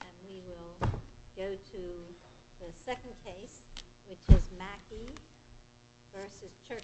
And we will go to the second case, which is Macky vs Chertoff.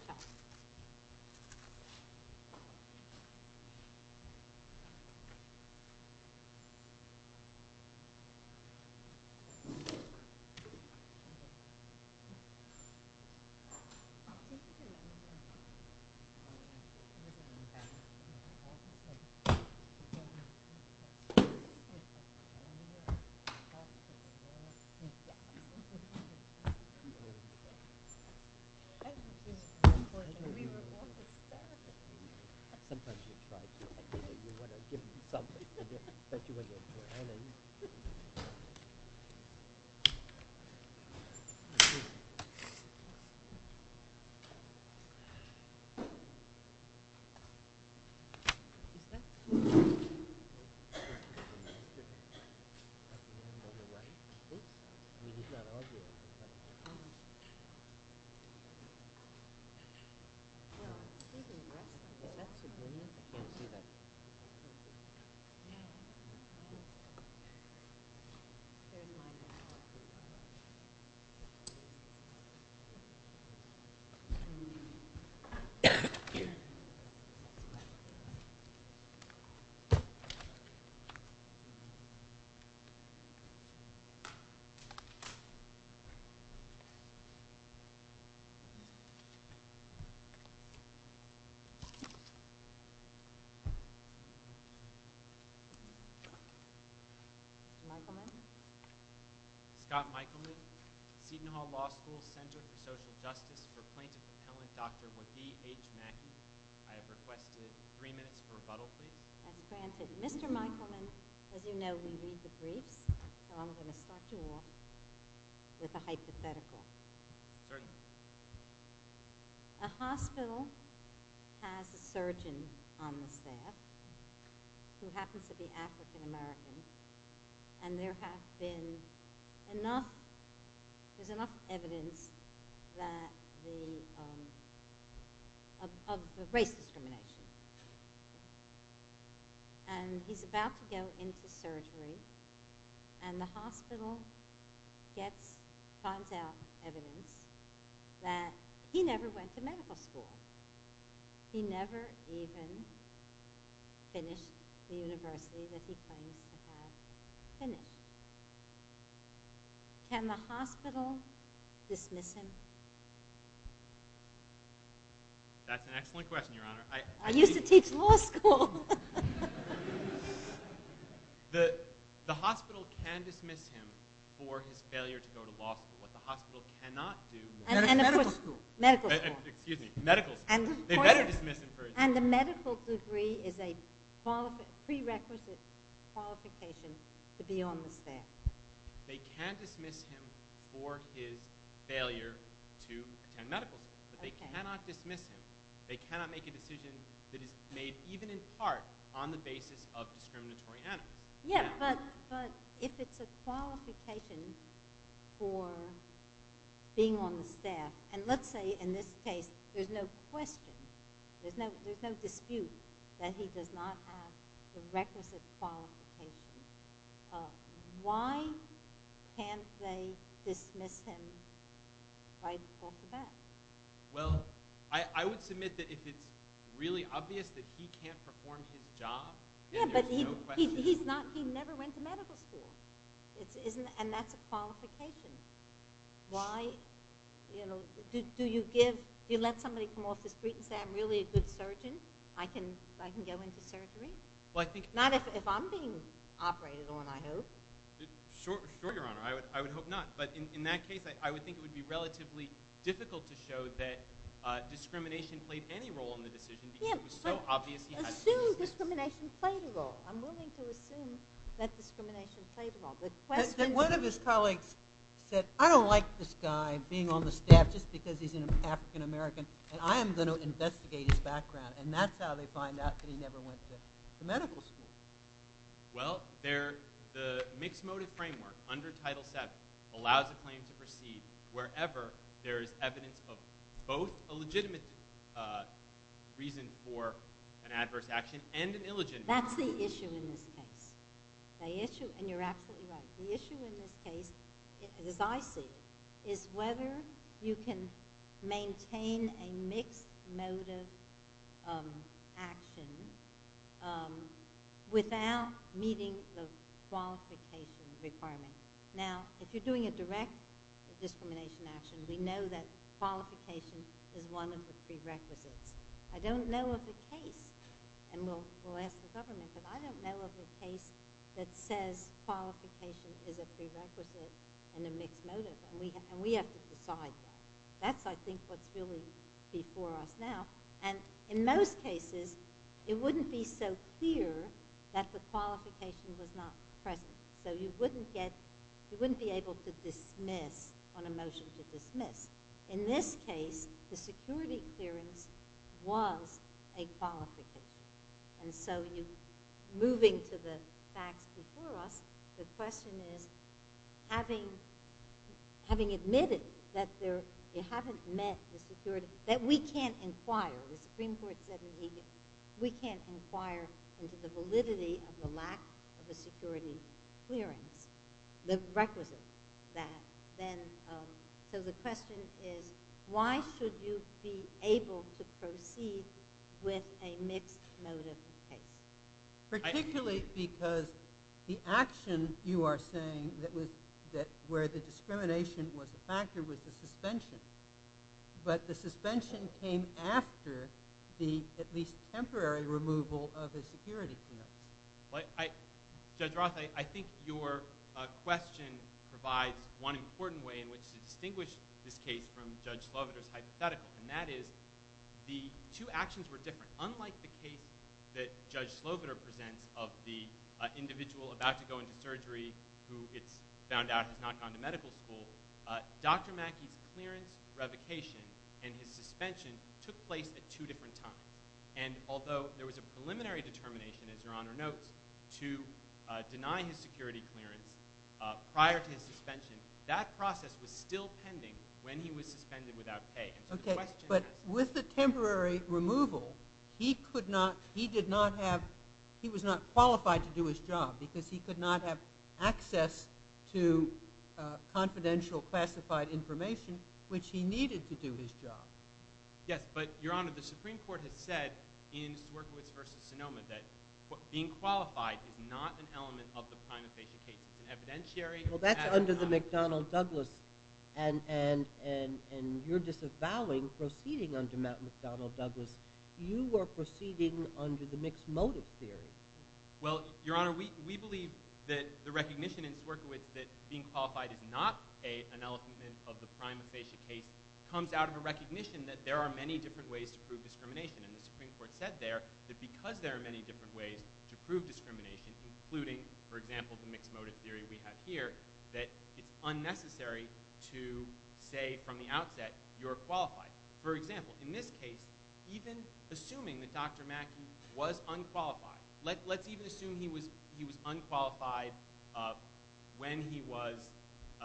Macky vs Chertoff Macky vs Chertoff Macky vs Chertoff Scott Michaelman As you know, we read the briefs, so I'm going to start you off with a hypothetical. A hospital has a surgeon on the staff who happens to be African American, and there has been enough evidence of race discrimination. And he's about to go into surgery, and the hospital finds out evidence that he never went to medical school. He never even finished the university that he claims to have finished. Can the hospital dismiss him? That's an excellent question, Your Honor. I used to teach law school. The hospital can dismiss him for his failure to go to law school, but the hospital cannot do more. Medical school. Excuse me, medical school. And the medical degree is a prerequisite qualification to be on the staff. They can't dismiss him for his failure to attend medical school. They cannot dismiss him. They cannot make a decision that is made even in part on the basis of discriminatory animals. Yeah, but if it's a qualification for being on the staff, and let's say in this case there's no question, there's no dispute that he does not have the requisite qualification, why can't they dismiss him right off the bat? Well, I would submit that if it's really obvious that he can't perform his job, then there's no question. Yeah, but he never went to medical school, and that's a qualification. Do you let somebody come off the street and say, I'm really a good surgeon, I can go into surgery? Not if I'm being operated on, I hope. Sure, Your Honor. I would hope not. But in that case, I would think it would be relatively difficult to show that discrimination played any role in the decision because it was so obvious he had to be on the staff. Assume discrimination played a role. I'm willing to assume that discrimination played a role. One of his colleagues said, I don't like this guy being on the staff just because he's an African American, and I am going to investigate his background, and that's how they find out that he never went to medical school. Well, the mixed motive framework under Title VII allows a claim to proceed wherever there is evidence of both a legitimate reason for an adverse action and an illegitimate reason. That's the issue in this case. And you're absolutely right. The issue in this case, as I see it, is whether you can maintain a mixed motive action without meeting the qualification requirement. Now, if you're doing a direct discrimination action, we know that qualification is one of the prerequisites. I don't know of a case, and we'll ask the government, but I don't know of a case that says qualification is a prerequisite and a mixed motive, and we have to decide that. That's, I think, what's really before us now. And in most cases, it wouldn't be so clear that the qualification was not present. So you wouldn't get, you wouldn't be able to dismiss on a motion to dismiss. In this case, the security clearance was a qualification. And so moving to the facts before us, the question is, having admitted that you haven't met the security, that we can't inquire, the Supreme Court said we can't inquire into the validity of the lack of a security clearance, the requisite that then, so the question is, why should you be able to proceed with a mixed motive case? Particularly because the action you are saying that where the discrimination was a factor was the suspension. But the suspension came after the at least temporary removal of the security clearance. Judge Roth, I think your question provides one important way in which to distinguish this case from Judge Sloviter's hypothetical, and that is the two actions were different. Unlike the case that Judge Sloviter presents of the individual about to go into surgery who it's found out has not gone to medical school, Dr. Mackey's clearance revocation and his suspension took place at two different times. And although there was a preliminary determination, as Your Honor notes, to deny his security clearance prior to his suspension, that process was still pending when he was suspended without pay. But with the temporary removal, he could not, he did not have, he was not qualified to do his job because he could not have access to confidential classified information which he needed to do his job. Yes, but Your Honor, the Supreme Court has said in Swierkiewicz v. Sonoma that being qualified is not an element of the prima facie case. It's an evidentiary. Well, that's under the McDonnell-Douglas, and you're disavowing proceeding under McDonnell-Douglas. You were proceeding under the mixed motive theory. Well, Your Honor, we believe that the recognition in Swierkiewicz that being qualified is not an element of the prima facie case comes out of a recognition that there are many different ways to prove discrimination. And the Supreme Court said there that because there are many different ways to prove discrimination, including, for example, the mixed motive theory we have here, that it's unnecessary to say from the outset you're qualified. For example, in this case, even assuming that Dr. Mackey was unqualified, let's even assume he was unqualified when he was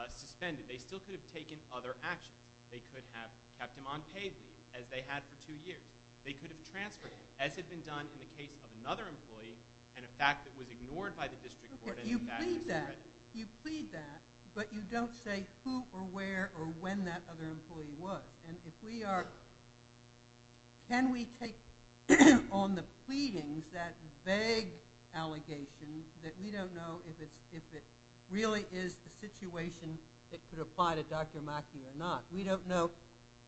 suspended. They still could have taken other action. They could have kept him on paid leave, as they had for two years. They could have transferred him, as had been done in the case of another employee and a fact that was ignored by the district court. You plead that, but you don't say who or where or when that other employee was. And if we are – can we take on the pleadings, that vague allegation, that we don't know if it really is the situation that could apply to Dr. Mackey or not. We don't know.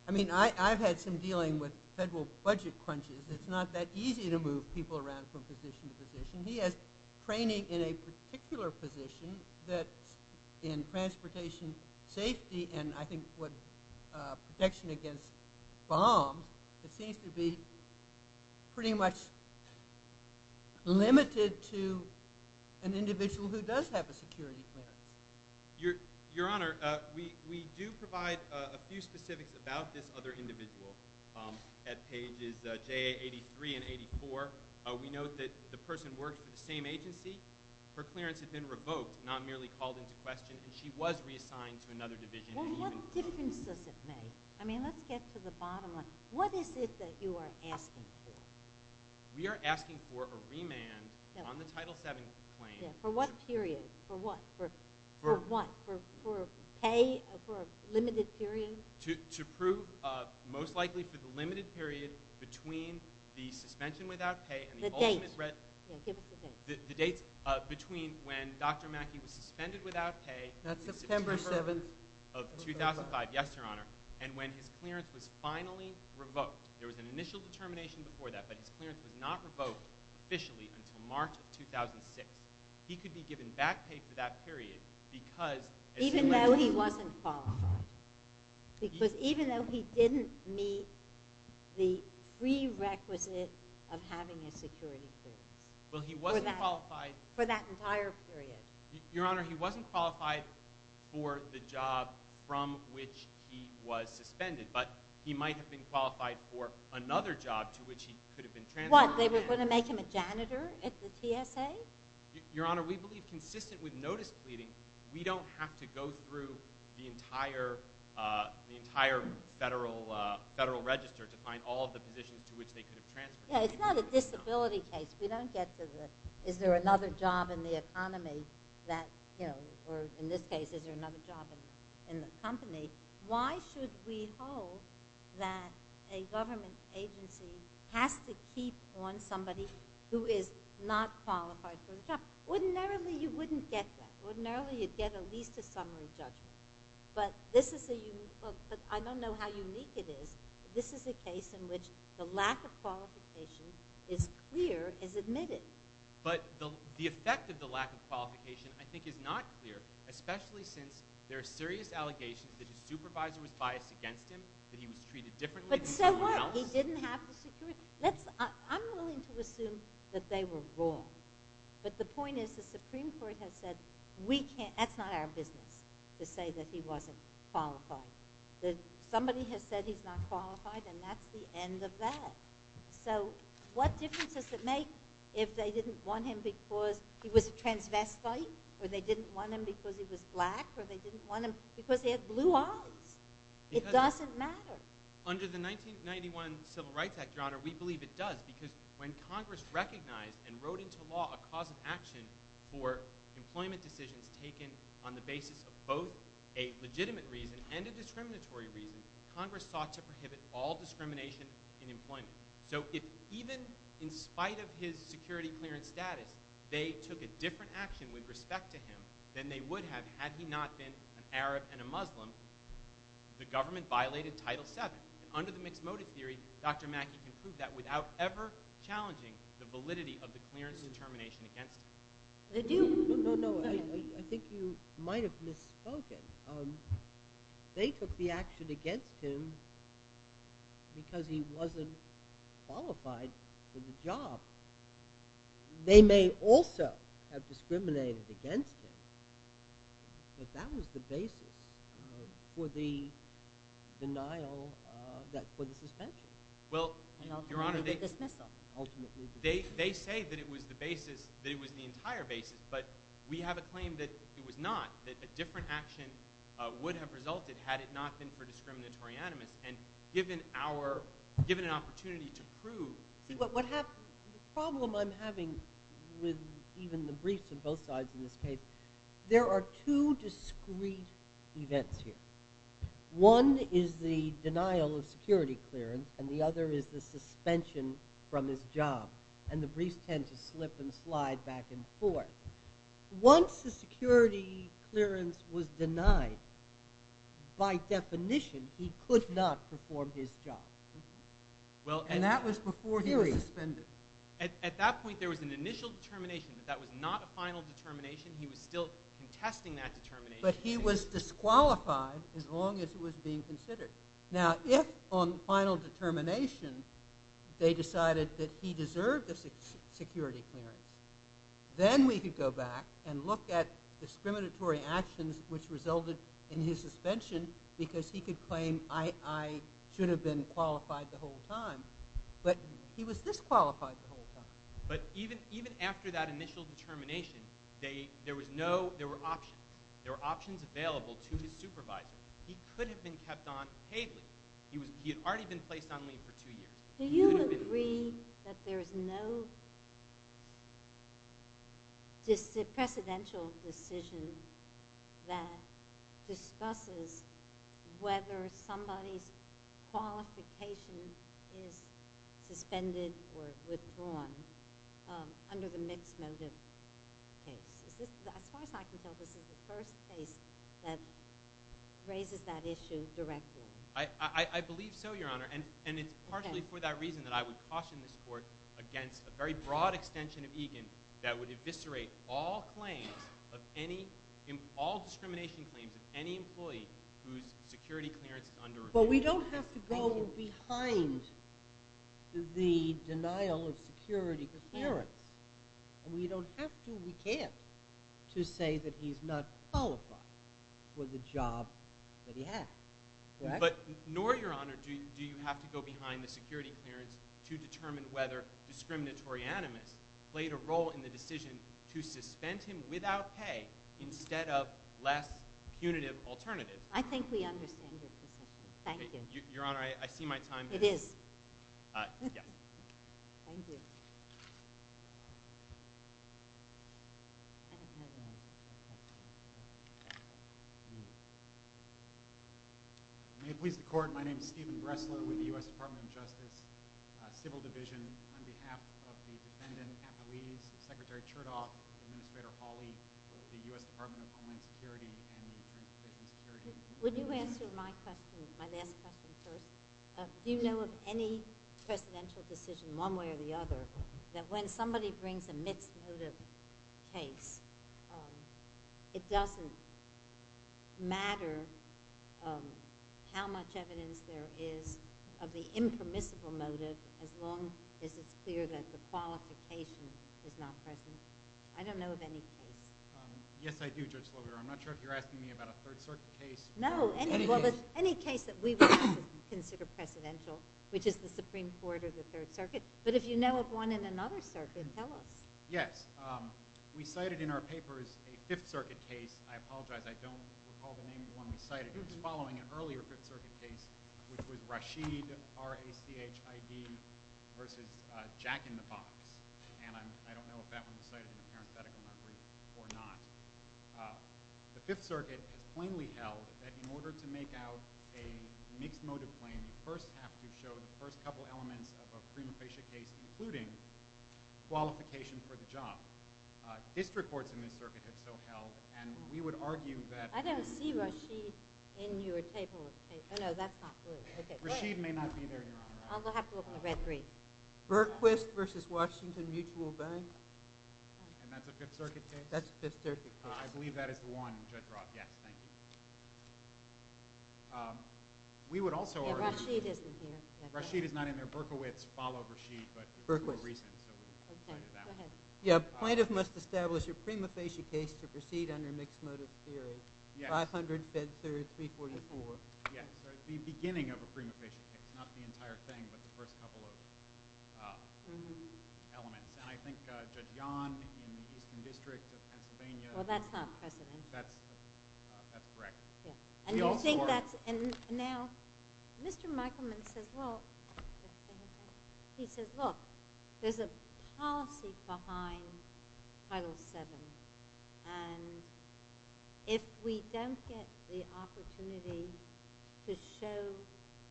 I mean, I've had some dealing with federal budget crunches. It's not that easy to move people around from position to position. He has training in a particular position that's in transportation safety and I think protection against bombs. It seems to be pretty much limited to an individual who does have a security clearance. Your Honor, we do provide a few specifics about this other individual. At pages JA83 and 84, we note that the person worked for the same agency. Her clearance had been revoked, not merely called into question, but she was reassigned to another division. Well, what difference does it make? I mean, let's get to the bottom of it. What is it that you are asking for? We are asking for a remand on the Title VII claim. For what period? For what? For what? For pay? For a limited period? To prove, most likely, for the limited period between the suspension without pay The dates. The dates between when Dr. Mackey was suspended without pay September 7, 2005. Yes, Your Honor. And when his clearance was finally revoked. There was an initial determination before that, but his clearance was not revoked officially until March of 2006. He could be given back pay for that period because Even though he wasn't followed. Because even though he didn't meet the prerequisite of having a security clearance. Well, he wasn't qualified. For that entire period. Your Honor, he wasn't qualified for the job from which he was suspended, but he might have been qualified for another job to which he could have been transferred. What, they were going to make him a janitor at the TSA? Your Honor, we believe, consistent with notice pleading, we don't have to go through the entire federal register to find all of the positions to which they could have transferred him. Yeah, it's not a disability case. We don't get to the, is there another job in the economy that, you know, or in this case, is there another job in the company? Why should we hold that a government agency has to keep on somebody who is not qualified for the job? Ordinarily, you wouldn't get that. Ordinarily, you'd get at least a summary judgment. But this is a, I don't know how unique it is, but this is a case in which the lack of qualification is clear, is admitted. But the effect of the lack of qualification, I think, is not clear, especially since there are serious allegations that his supervisor was biased against him, that he was treated differently than everyone else. But so what? He didn't have the security. I'm willing to assume that they were wrong. But the point is the Supreme Court has said we can't, that's not our business to say that he wasn't qualified. Somebody has said he's not qualified, and that's the end of that. So what difference does it make if they didn't want him because he was a transvestite or they didn't want him because he was black or they didn't want him because he had blue eyes? It doesn't matter. Under the 1991 Civil Rights Act, Your Honor, we believe it does because when Congress recognized and wrote into law a cause of action for employment decisions taken on the basis of both a legitimate reason and a discriminatory reason, Congress sought to prohibit all discrimination in employment. So if even in spite of his security clearance status, they took a different action with respect to him than they would have had he not been an Arab and a Muslim, the government violated Title VII. Under the mixed motive theory, Dr. Mackey can prove that without ever challenging the validity of the clearance determination against him. They do. No, no, no. I think you might have misspoken. They took the action against him because he wasn't qualified for the job. They may also have discriminated against him, but that was the basis for the denial, for the suspension. Well, Your Honor, they say that it was the basis, that it was the entire basis, but we have a claim that it was not, that a different action would have resulted had it not been for discriminatory animus. And given an opportunity to prove— See, the problem I'm having with even the briefs on both sides in this case, there are two discrete events here. One is the denial of security clearance, and the other is the suspension from his job, and the briefs tend to slip and slide back and forth. Once the security clearance was denied, by definition, he could not perform his job. And that was before he was suspended. At that point, there was an initial determination that that was not a final determination. He was still contesting that determination. But he was disqualified as long as it was being considered. Now, if on final determination they decided that he deserved a security clearance, then we could go back and look at discriminatory actions which resulted in his suspension because he could claim, I should have been qualified the whole time. But he was disqualified the whole time. But even after that initial determination, there were options. There were options available to his supervisor. He could have been kept on paid leave. He had already been placed on leave for two years. Do you agree that there is no precedential decision that discusses whether somebody's qualification is suspended or withdrawn under the mixed motive case? As far as I can tell, this is the first case that raises that issue directly. I believe so, Your Honor. And it's partially for that reason that I would caution this court against a very broad extension of Egan that would eviscerate all discrimination claims of any employee whose security clearance is under review. But we don't have to go behind the denial of security clearance. And we don't have to, we can't, to say that he's not qualified for the job that he has. But nor, Your Honor, do you have to go behind the security clearance to determine whether discriminatory animus played a role in the decision to suspend him without pay instead of less punitive alternative. I think we understand it. Thank you. Your Honor, I see my time. It is. Yeah. Thank you. May it please the Court, my name is Stephen Bressler with the U.S. Department of Justice, Civil Division. On behalf of the defendant, Kathleen, Secretary Chertoff, Administrator Hawley, the U.S. Department of Homeland Security, and the Department of State and Security. Would you answer my question, my last question first? Do you know of any presidential decision, one way or the other, that when somebody brings a mixed motive case, it doesn't matter how much evidence there is of the impermissible motive as long as it's clear that the qualification is not present? I don't know of any case. Yes, I do, Judge Lobert. I'm not sure if you're asking me about a Third Circuit case. No, any case that we would consider presidential, which is the Supreme Court or the Third Circuit. But if you know of one in another circuit, tell us. Yes. We cited in our papers a Fifth Circuit case. I apologize, I don't recall the name of the one we cited. It was following an earlier Fifth Circuit case, which was Rashid, R-A-C-H-I-D, versus Jack in the Box. And I don't know if that one was cited in the parenthetical memory or not. The Fifth Circuit has plainly held that in order to make out a mixed motive claim, you first have to show the first couple elements of a prima facie case, including qualification for the job. District courts in this circuit have so held, and we would argue that… I don't see Rashid in your table. Oh, no, that's not good. Rashid may not be there, Your Honor. I'll have to look in the red brief. Berquist versus Washington Mutual Bank. And that's a Fifth Circuit case? That's a Fifth Circuit case. I believe that is the one, Judge Roth. Yes, thank you. We would also argue… Rashid isn't here. Rashid is not in there. Berquist followed Rashid, but… Berquist. Okay, go ahead. Yeah, plaintiff must establish a prima facie case to proceed under mixed motive theory. Yes. 500 Bedford 344. Yes. The beginning of a prima facie case, not the entire thing, but the first couple of elements. And I think Judge Yahn in the Eastern District of Pennsylvania… Well, that's not precedent. That's correct. And you think that's… We also… And now, Mr. Michaelman says, well… He says, look, there's a policy behind Title VII, and if we don't get the opportunity to show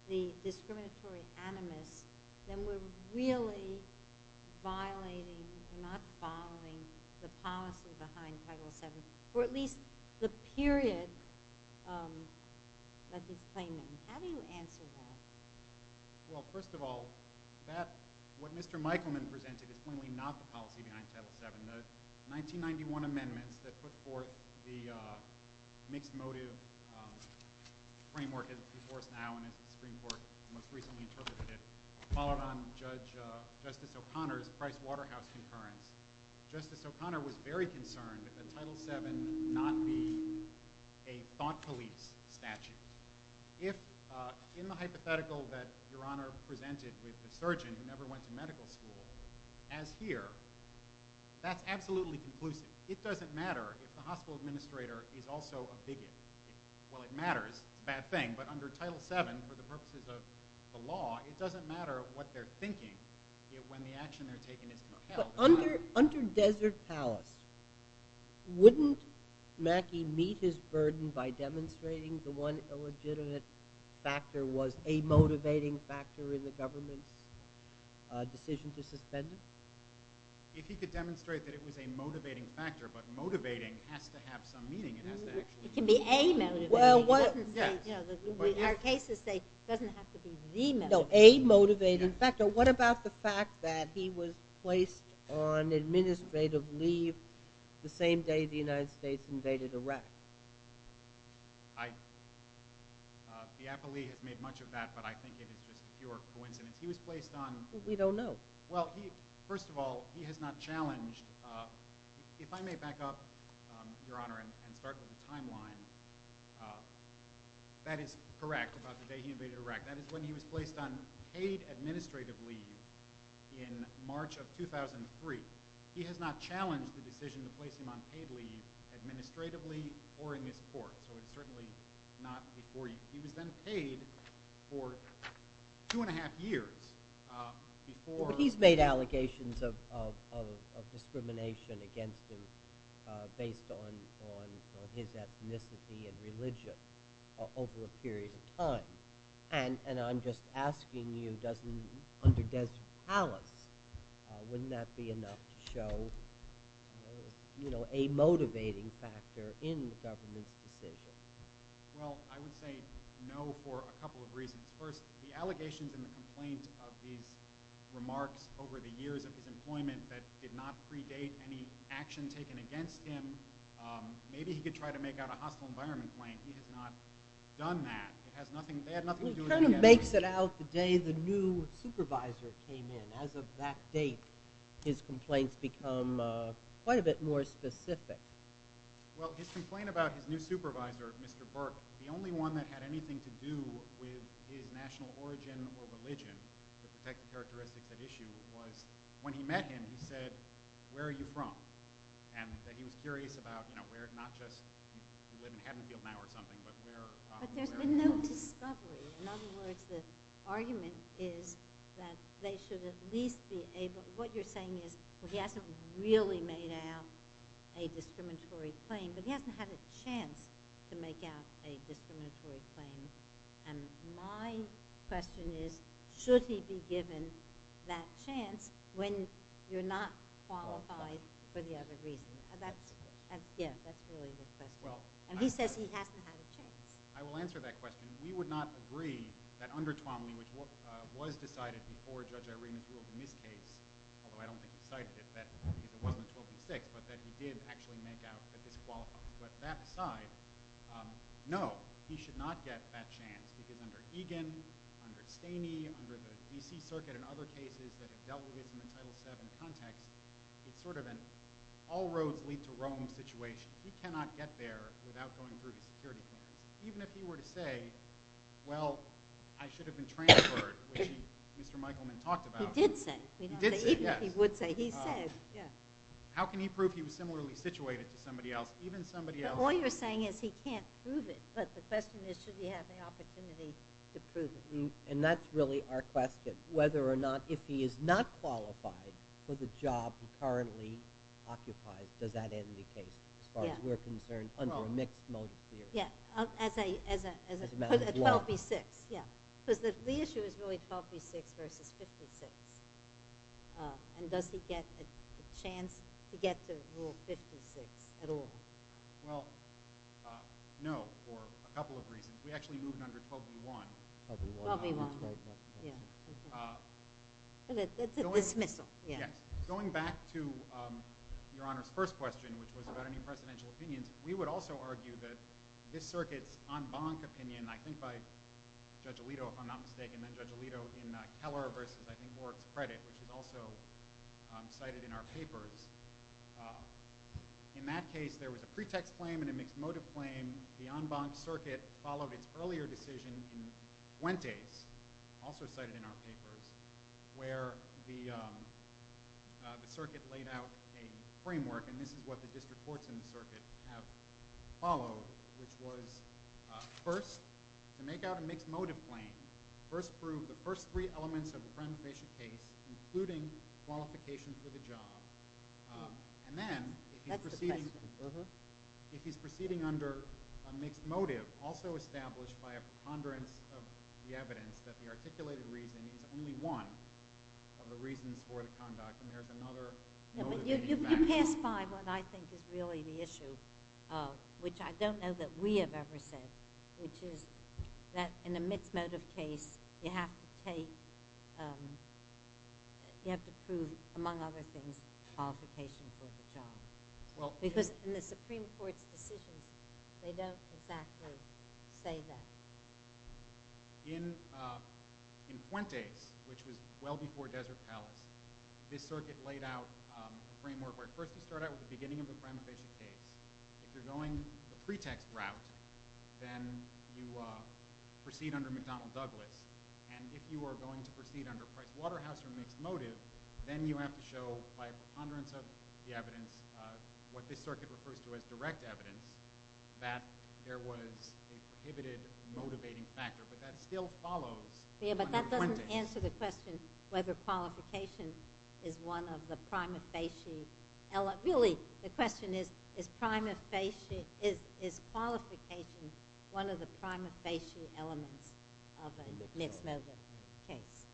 the discriminatory animus, then we're really violating, we're not following the policy behind Title VII, or at least the period that he's claiming. How do you answer that? Well, first of all, what Mr. Michaelman presented is clearly not the policy behind Title VII. The 1991 amendments that put forth the mixed motive framework as it's being enforced now and as the Supreme Court most recently interpreted it, followed on Justice O'Connor's Price Waterhouse concurrence. Justice O'Connor was very concerned that Title VII not be a thought police statute. If, in the hypothetical that Your Honor presented with the surgeon who never went to medical school, as here, that's absolutely conclusive. It doesn't matter if the hospital administrator is also a bigot. Well, it matters. It's a bad thing. But under Title VII, for the purposes of the law, it doesn't matter what they're thinking when the action they're taking isn't upheld. Under Desert Palace, wouldn't Mackey meet his burden by demonstrating the one illegitimate factor was a motivating factor in the government's decision to suspend him? If he could demonstrate that it was a motivating factor, but motivating has to have some meaning. It can be a motivating factor. In our cases, it doesn't have to be the motivating factor. No, a motivating factor. What about the fact that he was placed on administrative leave the same day the United States invaded Iraq? I... Diapoli has made much of that, but I think it is just pure coincidence. He was placed on... We don't know. Well, first of all, he has not challenged... If I may back up, Your Honor, and start with the timeline, that is correct about the day he invaded Iraq. That is when he was placed on paid administrative leave in March of 2003. He has not challenged the decision to place him on paid leave administratively or in this court. So it is certainly not before... He was then paid for two and a half years before... Well, he's made allegations of discrimination against him based on his ethnicity and religion over a period of time. And I'm just asking you, doesn't... Under Desert Palace, wouldn't that be enough to show a motivating factor in the government's decision? Well, I would say no for a couple of reasons. First, the allegations and the complaints of these remarks over the years of his employment that did not predate any action taken against him. Maybe he could try to make out a hostile environment claim. He has not done that. He kind of makes it out the day the new supervisor came in. As of that date, his complaints become quite a bit more specific. Well, his complaint about his new supervisor, Mr. Burke, the only one that had anything to do with his national origin or religion to protect the characteristics at issue was when he met him, he said, where are you from? And that he was curious about where, not just, you live in Haddonfield now or something, but where... But there's been no discovery. In other words, the argument is that they should at least be able... What you're saying is he hasn't really made out a discriminatory claim, but he hasn't had a chance to make out a discriminatory claim. And my question is, should he be given that chance when you're not qualified for the other reason? Yeah, that's really the question. And he says he hasn't had a chance. I will answer that question. We would not agree that under Twomley, which was decided before Judge Irene's rule in this case, although I don't think he cited it, that it wasn't 12-6, but that he did actually make out a disqualification. But that aside, no, he should not get that chance because under Egan, under Staney, under the D.C. Circuit and other cases that have dealt with it in the Title VII context, it's sort of an all-roads-lead-to-Rome situation. He cannot get there without going through the security clearance, even if he were to say, well, I should have been transferred, which Mr. Michaelman talked about. He did say. He did say, yes. Even if he would say, he said, yes. How can he prove he was similarly situated to somebody else, even somebody else... But all you're saying is he can't prove it. But the question is, should he have the opportunity to prove it? And that's really our question, whether or not, if he is not qualified for the job he currently occupies, does that end the case, as far as we're concerned, under a mixed motive theory. As a matter of law. 12-B-6, yeah. Because the issue is really 12-B-6 versus 56. And does he get a chance to get to Rule 56 at all? Well, no, for a couple of reasons. We actually moved under 12-B-1. 12-B-1. 12-B-1. Yeah. It's a dismissal. Yes. Going back to Your Honor's first question, which was about any presidential opinions, we would also argue that this circuit's en banc opinion, I think by Judge Alito, if I'm not mistaken, and Judge Alito in Keller versus, I think, Warwick's credit, which was also cited in our papers. In that case, there was a pretext claim and a mixed motive claim. And the en banc circuit followed its earlier decision in Fuentes, also cited in our papers, where the circuit laid out a framework. And this is what the district courts in the circuit have followed, which was first, to make out a mixed motive claim, first prove the first three elements of the premeditation case, including qualifications for the job. And then, if he's proceeding under a mixed motive, also established by a preponderance of the evidence that the articulated reason is only one of the reasons for the conduct, and there's another motive in the en banc. You've passed by what I think is really the issue, which I don't know that we have ever said, which is that in a mixed motive case, you have to prove, among other things, qualifications for the job. Because in the Supreme Court's decision, they don't exactly say that. In Fuentes, which was well before Desert Palace, this circuit laid out a framework where, first, you start out with the beginning of the premeditation case. If you're going the pretext route, then you proceed under McDonnell Douglas. And if you are going to proceed under Price Waterhouse or mixed motive, then you have to show, by preponderance of the evidence, what this circuit refers to as direct evidence, that there was a prohibited motivating factor. But that still follows under Fuentes. Yeah, but that doesn't answer the question whether qualification is one of the prima facie elements. Really, the question is, is qualification one of the prima facie elements of a mixed motive case?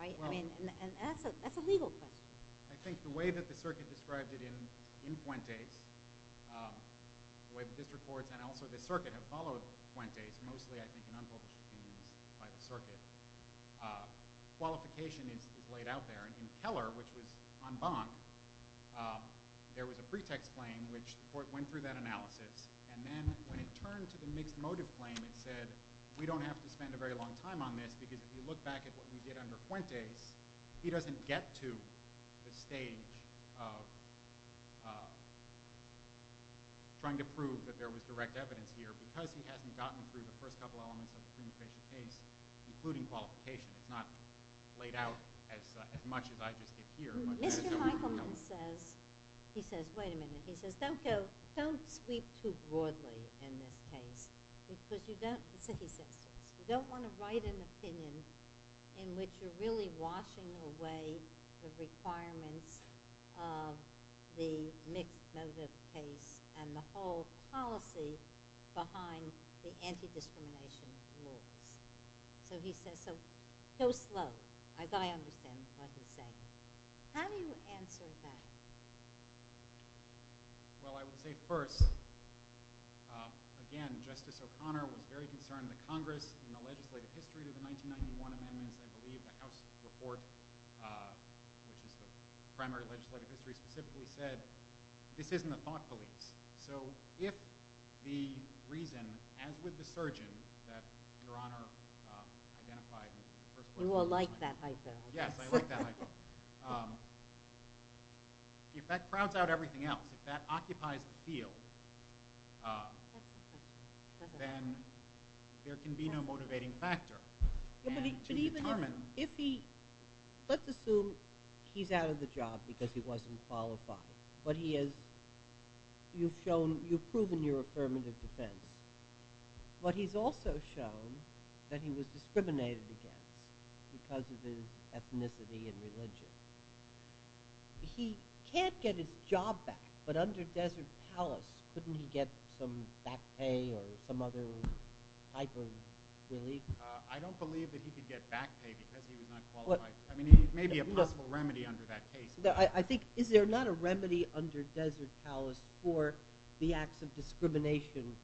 And that's a legal question. I think the way that the circuit described it in Fuentes, the way the district courts and also the circuit have followed Fuentes, mostly, I think, in unpublished opinions by the circuit, qualification is laid out there. And in Keller, which was en banc, there was a pretext claim, which the court went through that analysis. And then, when it turned to the mixed motive claim, it said, we don't have to spend a very long time on this, because if you look back at what we did under Fuentes, he doesn't get to the stage of trying to prove that there was direct evidence here, because he hasn't gotten through the first couple elements of the prima facie case, including qualification. It's not laid out as much as I just did here. Mr. Michaelman says, he says, wait a minute. He says, don't go, don't sweep too broadly in this case, because you don't want to write an opinion in which you're really washing away the requirements of the mixed motive case and the whole policy behind the anti-discrimination laws. So he says, so go slow. I understand what he's saying. How do you answer that? Well, I would say first, again, Justice O'Connor was very concerned that Congress, in the legislative history to the 1991 amendments, I believe the House report, which is the primary legislative history, specifically said, this isn't the thought beliefs. So if the reason, as with the surgeon, that Your Honor identified in the first place. You all like that hypo. Yes, I like that hypo. If that crowds out everything else, if that occupies the field, then there can be no motivating factor. But even if he, let's assume he's out of the job because he wasn't qualified. But he is, you've shown, you've proven you're affirmative defense. But he's also shown that he was discriminated against because of his ethnicity and religion. He can't get his job back, but under Desert Palace, couldn't he get some back pay or some other type of relief? I don't believe that he could get back pay because he was not qualified. There may be a possible remedy under that case. I think, is there not a remedy under Desert Palace for the acts of discrimination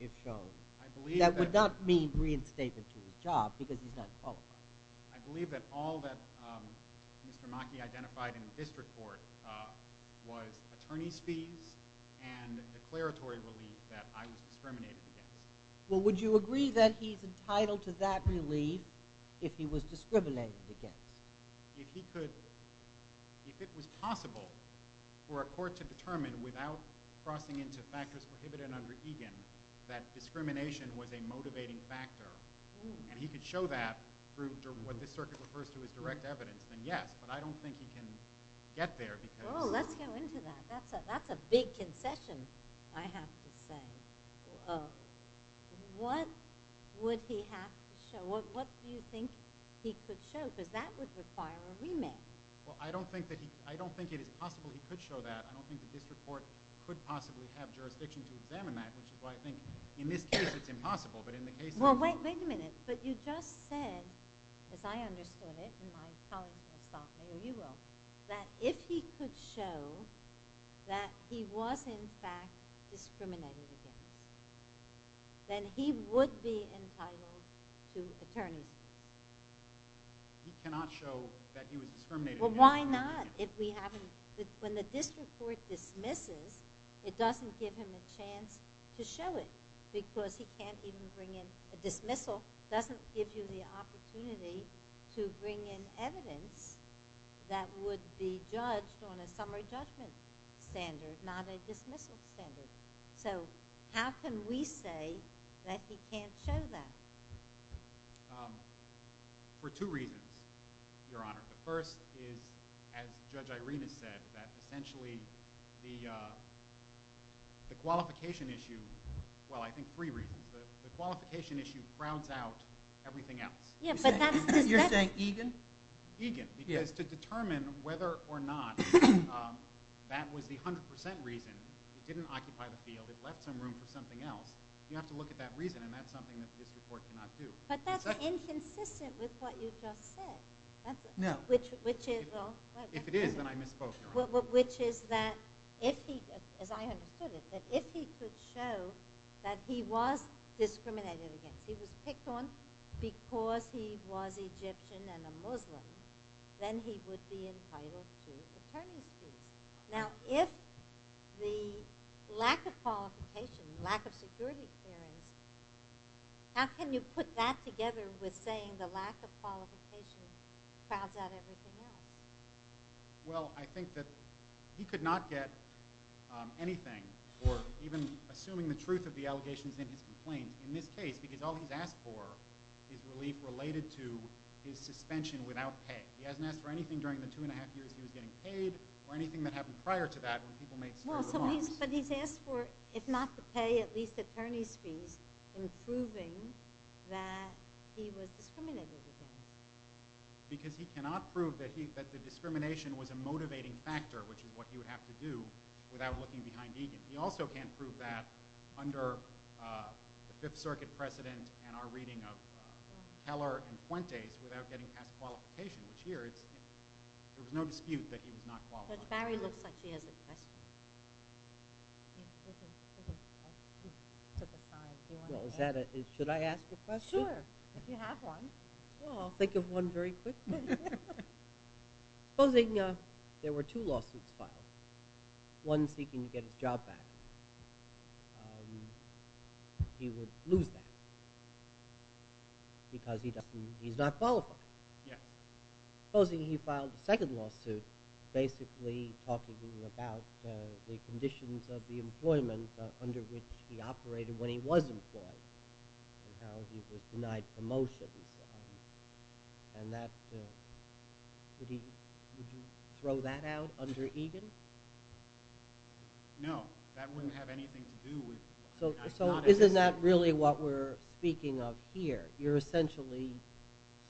if shown? I believe that. That would not mean reinstatement to his job because he's not qualified. I believe that all that Mr. Mackey identified in the district court was attorney's fees and declaratory relief that I was discriminated against. Well, would you agree that he's entitled to that relief if he was discriminated against? If he could, if it was possible for a court to determine without crossing into factors prohibited under Egan that discrimination was a motivating factor, and he could show that through what this circuit refers to as direct evidence, then yes. But I don't think he can get there. Oh, let's go into that. That's a big concession, I have to say. What would he have to show? What do you think he could show? Because that would require a remand. Well, I don't think it is possible he could show that. I don't think the district court could possibly have jurisdiction to examine that, which is why I think in this case, it's impossible. Well, wait a minute. But you just said, as I understood it, and my colleagues will stop me, or you will, that if he could show that he was in fact discriminated against, then he would be entitled to attorney's fees. He cannot show that he was discriminated against. Well, why not? When the district court dismisses, it doesn't give him a chance to show it because he can't even bring in a dismissal. It doesn't give you the opportunity to bring in evidence that would be judged on a summary judgment standard, not a dismissal standard. So how can we say that he can't show that? For two reasons, Your Honor. The first is, as Judge Irena said, that essentially the qualification issue, well, I think three reasons. The qualification issue crowds out everything else. You're saying egan? Egan, because to determine whether or not that was the 100% reason, it didn't occupy the field, it left some room for something else, you have to look at that reason, and that's something that the district court cannot do. But that's inconsistent with what you just said. No. If it is, then I misspoke, Your Honor. Which is that, as I understood it, if he could show that he was discriminated against, he was picked on because he was Egyptian and a Muslim, then he would be entitled to attorney's leave. Now, if the lack of qualification, lack of security clearance, how can you put that together with saying that the lack of qualification crowds out everything else? Well, I think that he could not get anything, or even assuming the truth of the allegations in his complaint, in this case, because all he's asked for is relief related to his suspension without pay. He hasn't asked for anything during the two and a half years he was getting paid, or anything that happened prior to that when people made certain remarks. But he's asked for, if not the pay, at least attorney's fees, in proving that he was discriminated against. Because he cannot prove that the discrimination was a motivating factor, which is what he would have to do without looking behind Egan. He also can't prove that under the Fifth Circuit precedent and our reading of Keller and Fuentes without getting past qualification, which here, there was no dispute that he was not qualified. But Barry looks like he has a question. He took his time. Should I ask a question? Sure, if you have one. Well, I'll think of one very quickly. Supposing there were two lawsuits filed, one seeking to get his job back. He would lose that because he's not qualified. Yeah. Supposing he filed the second lawsuit basically talking to you about the conditions of the employment under which he operated when he was employed and how he was denied promotions. And that, would you throw that out under Egan? No, that wouldn't have anything to do with it. So isn't that really what we're speaking of here? You're essentially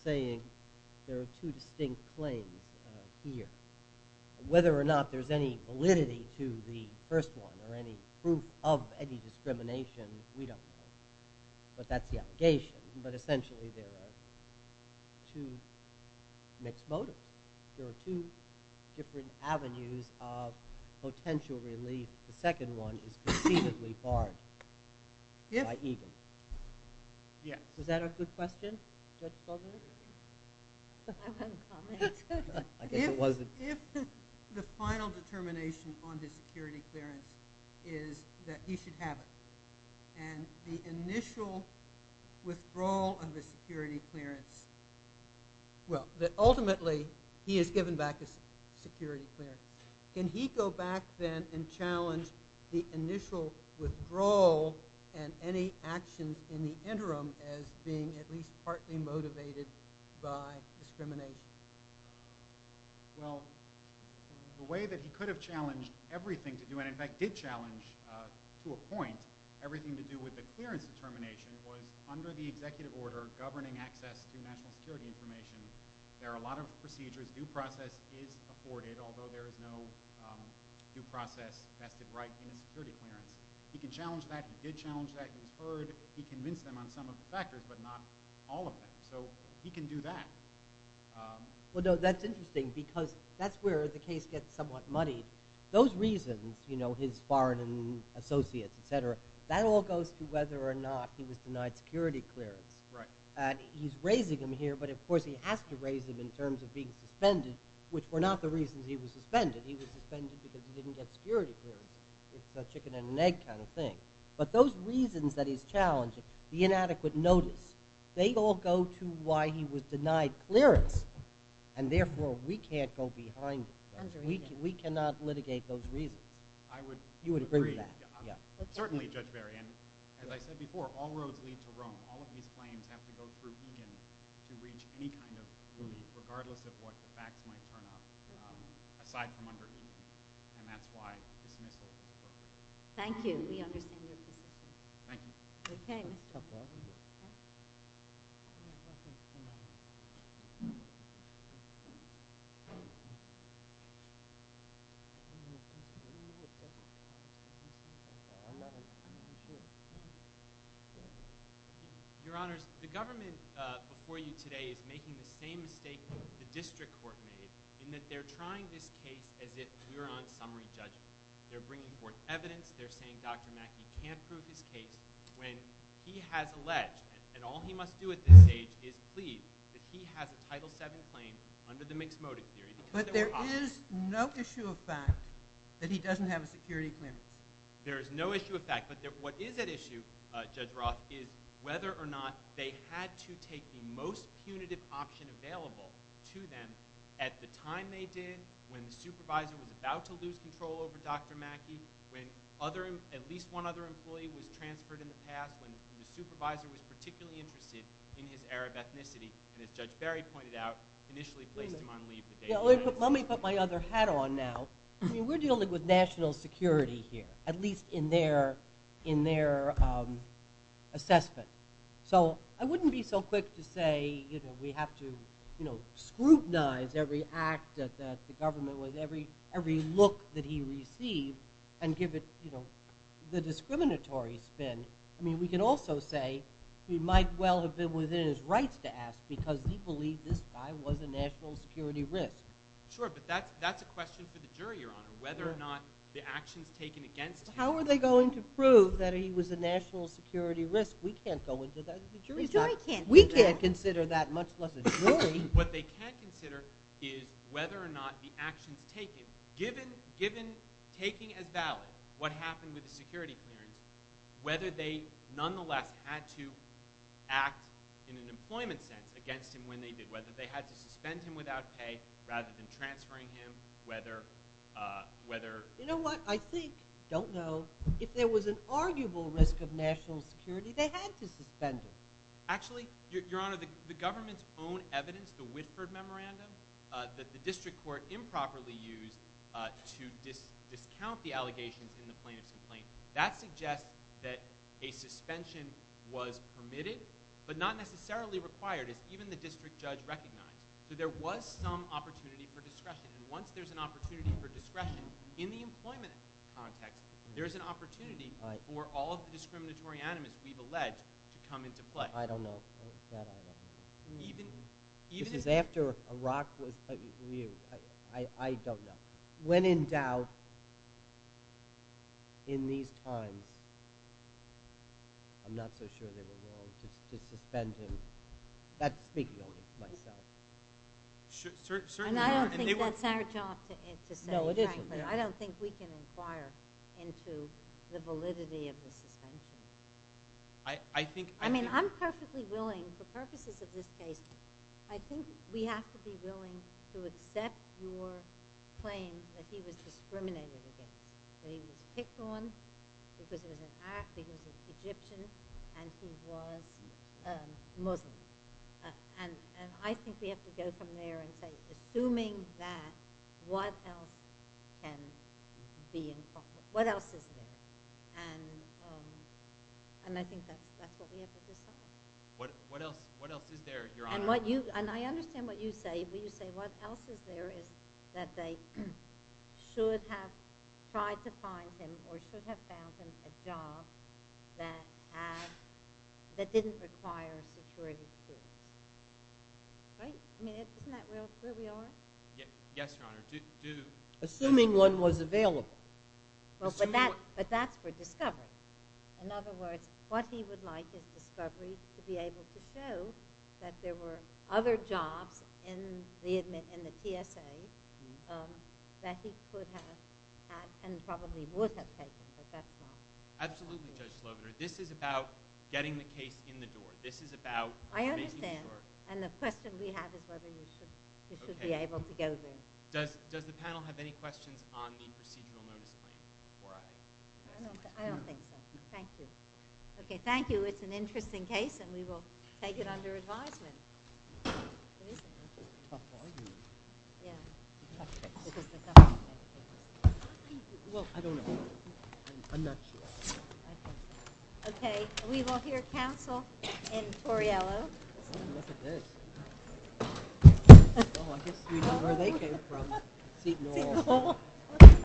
saying there are two distinct claims here. Whether or not there's any validity to the first one or any proof of any discrimination, we don't know. But that's the allegation. But essentially there are two mixed motives. There are two different avenues of potential relief. The second one is conceivably barred by Egan. Yeah. Was that a good question? I have a comment. If the final determination on his security clearance is that he should have it and the initial withdrawal of his security clearance, well, that ultimately he is given back his security clearance, can he go back then and challenge the initial withdrawal and any action in the interim as being at least partly motivated by discrimination? Well, the way that he could have challenged everything to do, and in fact did challenge to a point everything to do with the clearance determination was under the executive order governing access to national security information. There are a lot of procedures. Due process is afforded, although there is no due process vested right in a security clearance. He can challenge that. He did challenge that. He was heard. He convinced them on some of the factors, but not all of them. So he can do that. Well, no, that's interesting because that's where the case gets somewhat muddied. Those reasons, you know, his foreign associates, et cetera, that all goes to whether or not he was denied security clearance. Right. He's raising them here, but of course he has to raise them in terms of being suspended, which were not the reasons he was suspended. He was suspended because he didn't get security clearance. It's a chicken and an egg kind of thing. But those reasons that he's challenged, the inadequate notice, they all go to why he was denied clearance, and therefore we can't go behind it. We cannot litigate those reasons. I would agree. You would agree with that? Yeah. Certainly, Judge Berry, and as I said before, all roads lead to Rome. All of these claims have to go through Egan to reach any kind of relief, regardless of what the facts might turn up, aside from under Egan, and that's why dismissal is required. Thank you. We understand your position. Thank you. Okay. Your Honors, the government before you today is making the same mistake the district court made in that they're trying this case as if we were on summary judgment. They're bringing forth evidence. They're saying Dr. Mackey can't prove his case when he has alleged, and all he must do at this stage is plead that he has a Title VII claim under the mixed motive theory. But there is no issue of fact that he doesn't have a security clearance. There is no issue of fact, but what is at issue, Judge Roth, is whether or not they had to take the most punitive option available to them at the time they did, when the supervisor was about to lose control over Dr. Mackey, when at least one other employee was transferred in the past, when the supervisor was particularly interested in his Arab ethnicity, and as Judge Barry pointed out, initially placed him on leave. Let me put my other hat on now. We're dealing with national security here, at least in their assessment. So I wouldn't be so quick to say we have to scrutinize every act that the government, every look that he received, and give it the discriminatory spin. I mean, we can also say he might well have been within his rights to ask because he believed this guy was a national security risk. Sure, but that's a question for the jury, Your Honor, whether or not the actions taken against him. How are they going to prove that he was a national security risk? We can't go into that. The jury can't do that. We can't consider that, much less a jury. What they can consider is whether or not the actions taken, given taking as valid what happened with the security clearance, whether they nonetheless had to act in an employment sense against him when they did, whether they had to suspend him without pay rather than transferring him, whether... You know what? I think, don't know, if there was an arguable risk of national security, they had to suspend him. Actually, Your Honor, the government's own evidence, the Whitford Memorandum, that the district court improperly used to discount the allegations in the plaintiff's complaint, that suggests that a suspension was permitted but not necessarily required as even the district judge recognized. So there was some opportunity for discretion. And once there's an opportunity for discretion in the employment context, there's an opportunity for all of the discriminatory animus that we've alleged to come into play. I don't know. That I don't know. Even... This is after Iraq was... I don't know. When in doubt, in these times, I'm not so sure they were willing to suspend him. That's speaking only to myself. Certainly not. And I don't think that's our job to say, frankly. No, it isn't. I don't think we can inquire into the validity of the suspension. I think... I mean, I'm perfectly willing, for purposes of this case, I think we have to be willing to accept your claim that he was discriminated against, that he was picked on because he was an act, because he was Egyptian, and he was Muslim. And I think we have to go from there and say, assuming that, what else can be involved? What else is there? And I think that's what we have to decide. What else is there, Your Honor? And I understand what you say, but you say what else is there is that they should have tried to find him or should have found him a job that didn't require security. Right? I mean, isn't that where we are? Yes, Your Honor. Assuming one was available. But that's for discovery. In other words, what he would like is discovery to be able to show that there were other jobs in the TSA that he could have had and probably would have taken, but that's not... Absolutely, Judge Slobiner. This is about getting the case in the door. This is about making it work. I understand. And the question we have is whether you should be able to go there. Does the panel have any questions on the procedural notice claim? I don't think so. Thank you. Okay, thank you. It's an interesting case, and we will take it under advisement. It's a tough argument. Yeah. It's a tough case. Well, I don't know. I'm not sure. Okay, we will hear counsel in Toriello. Look at this. Oh, I guess we know where they came from. Seat North. Seat North.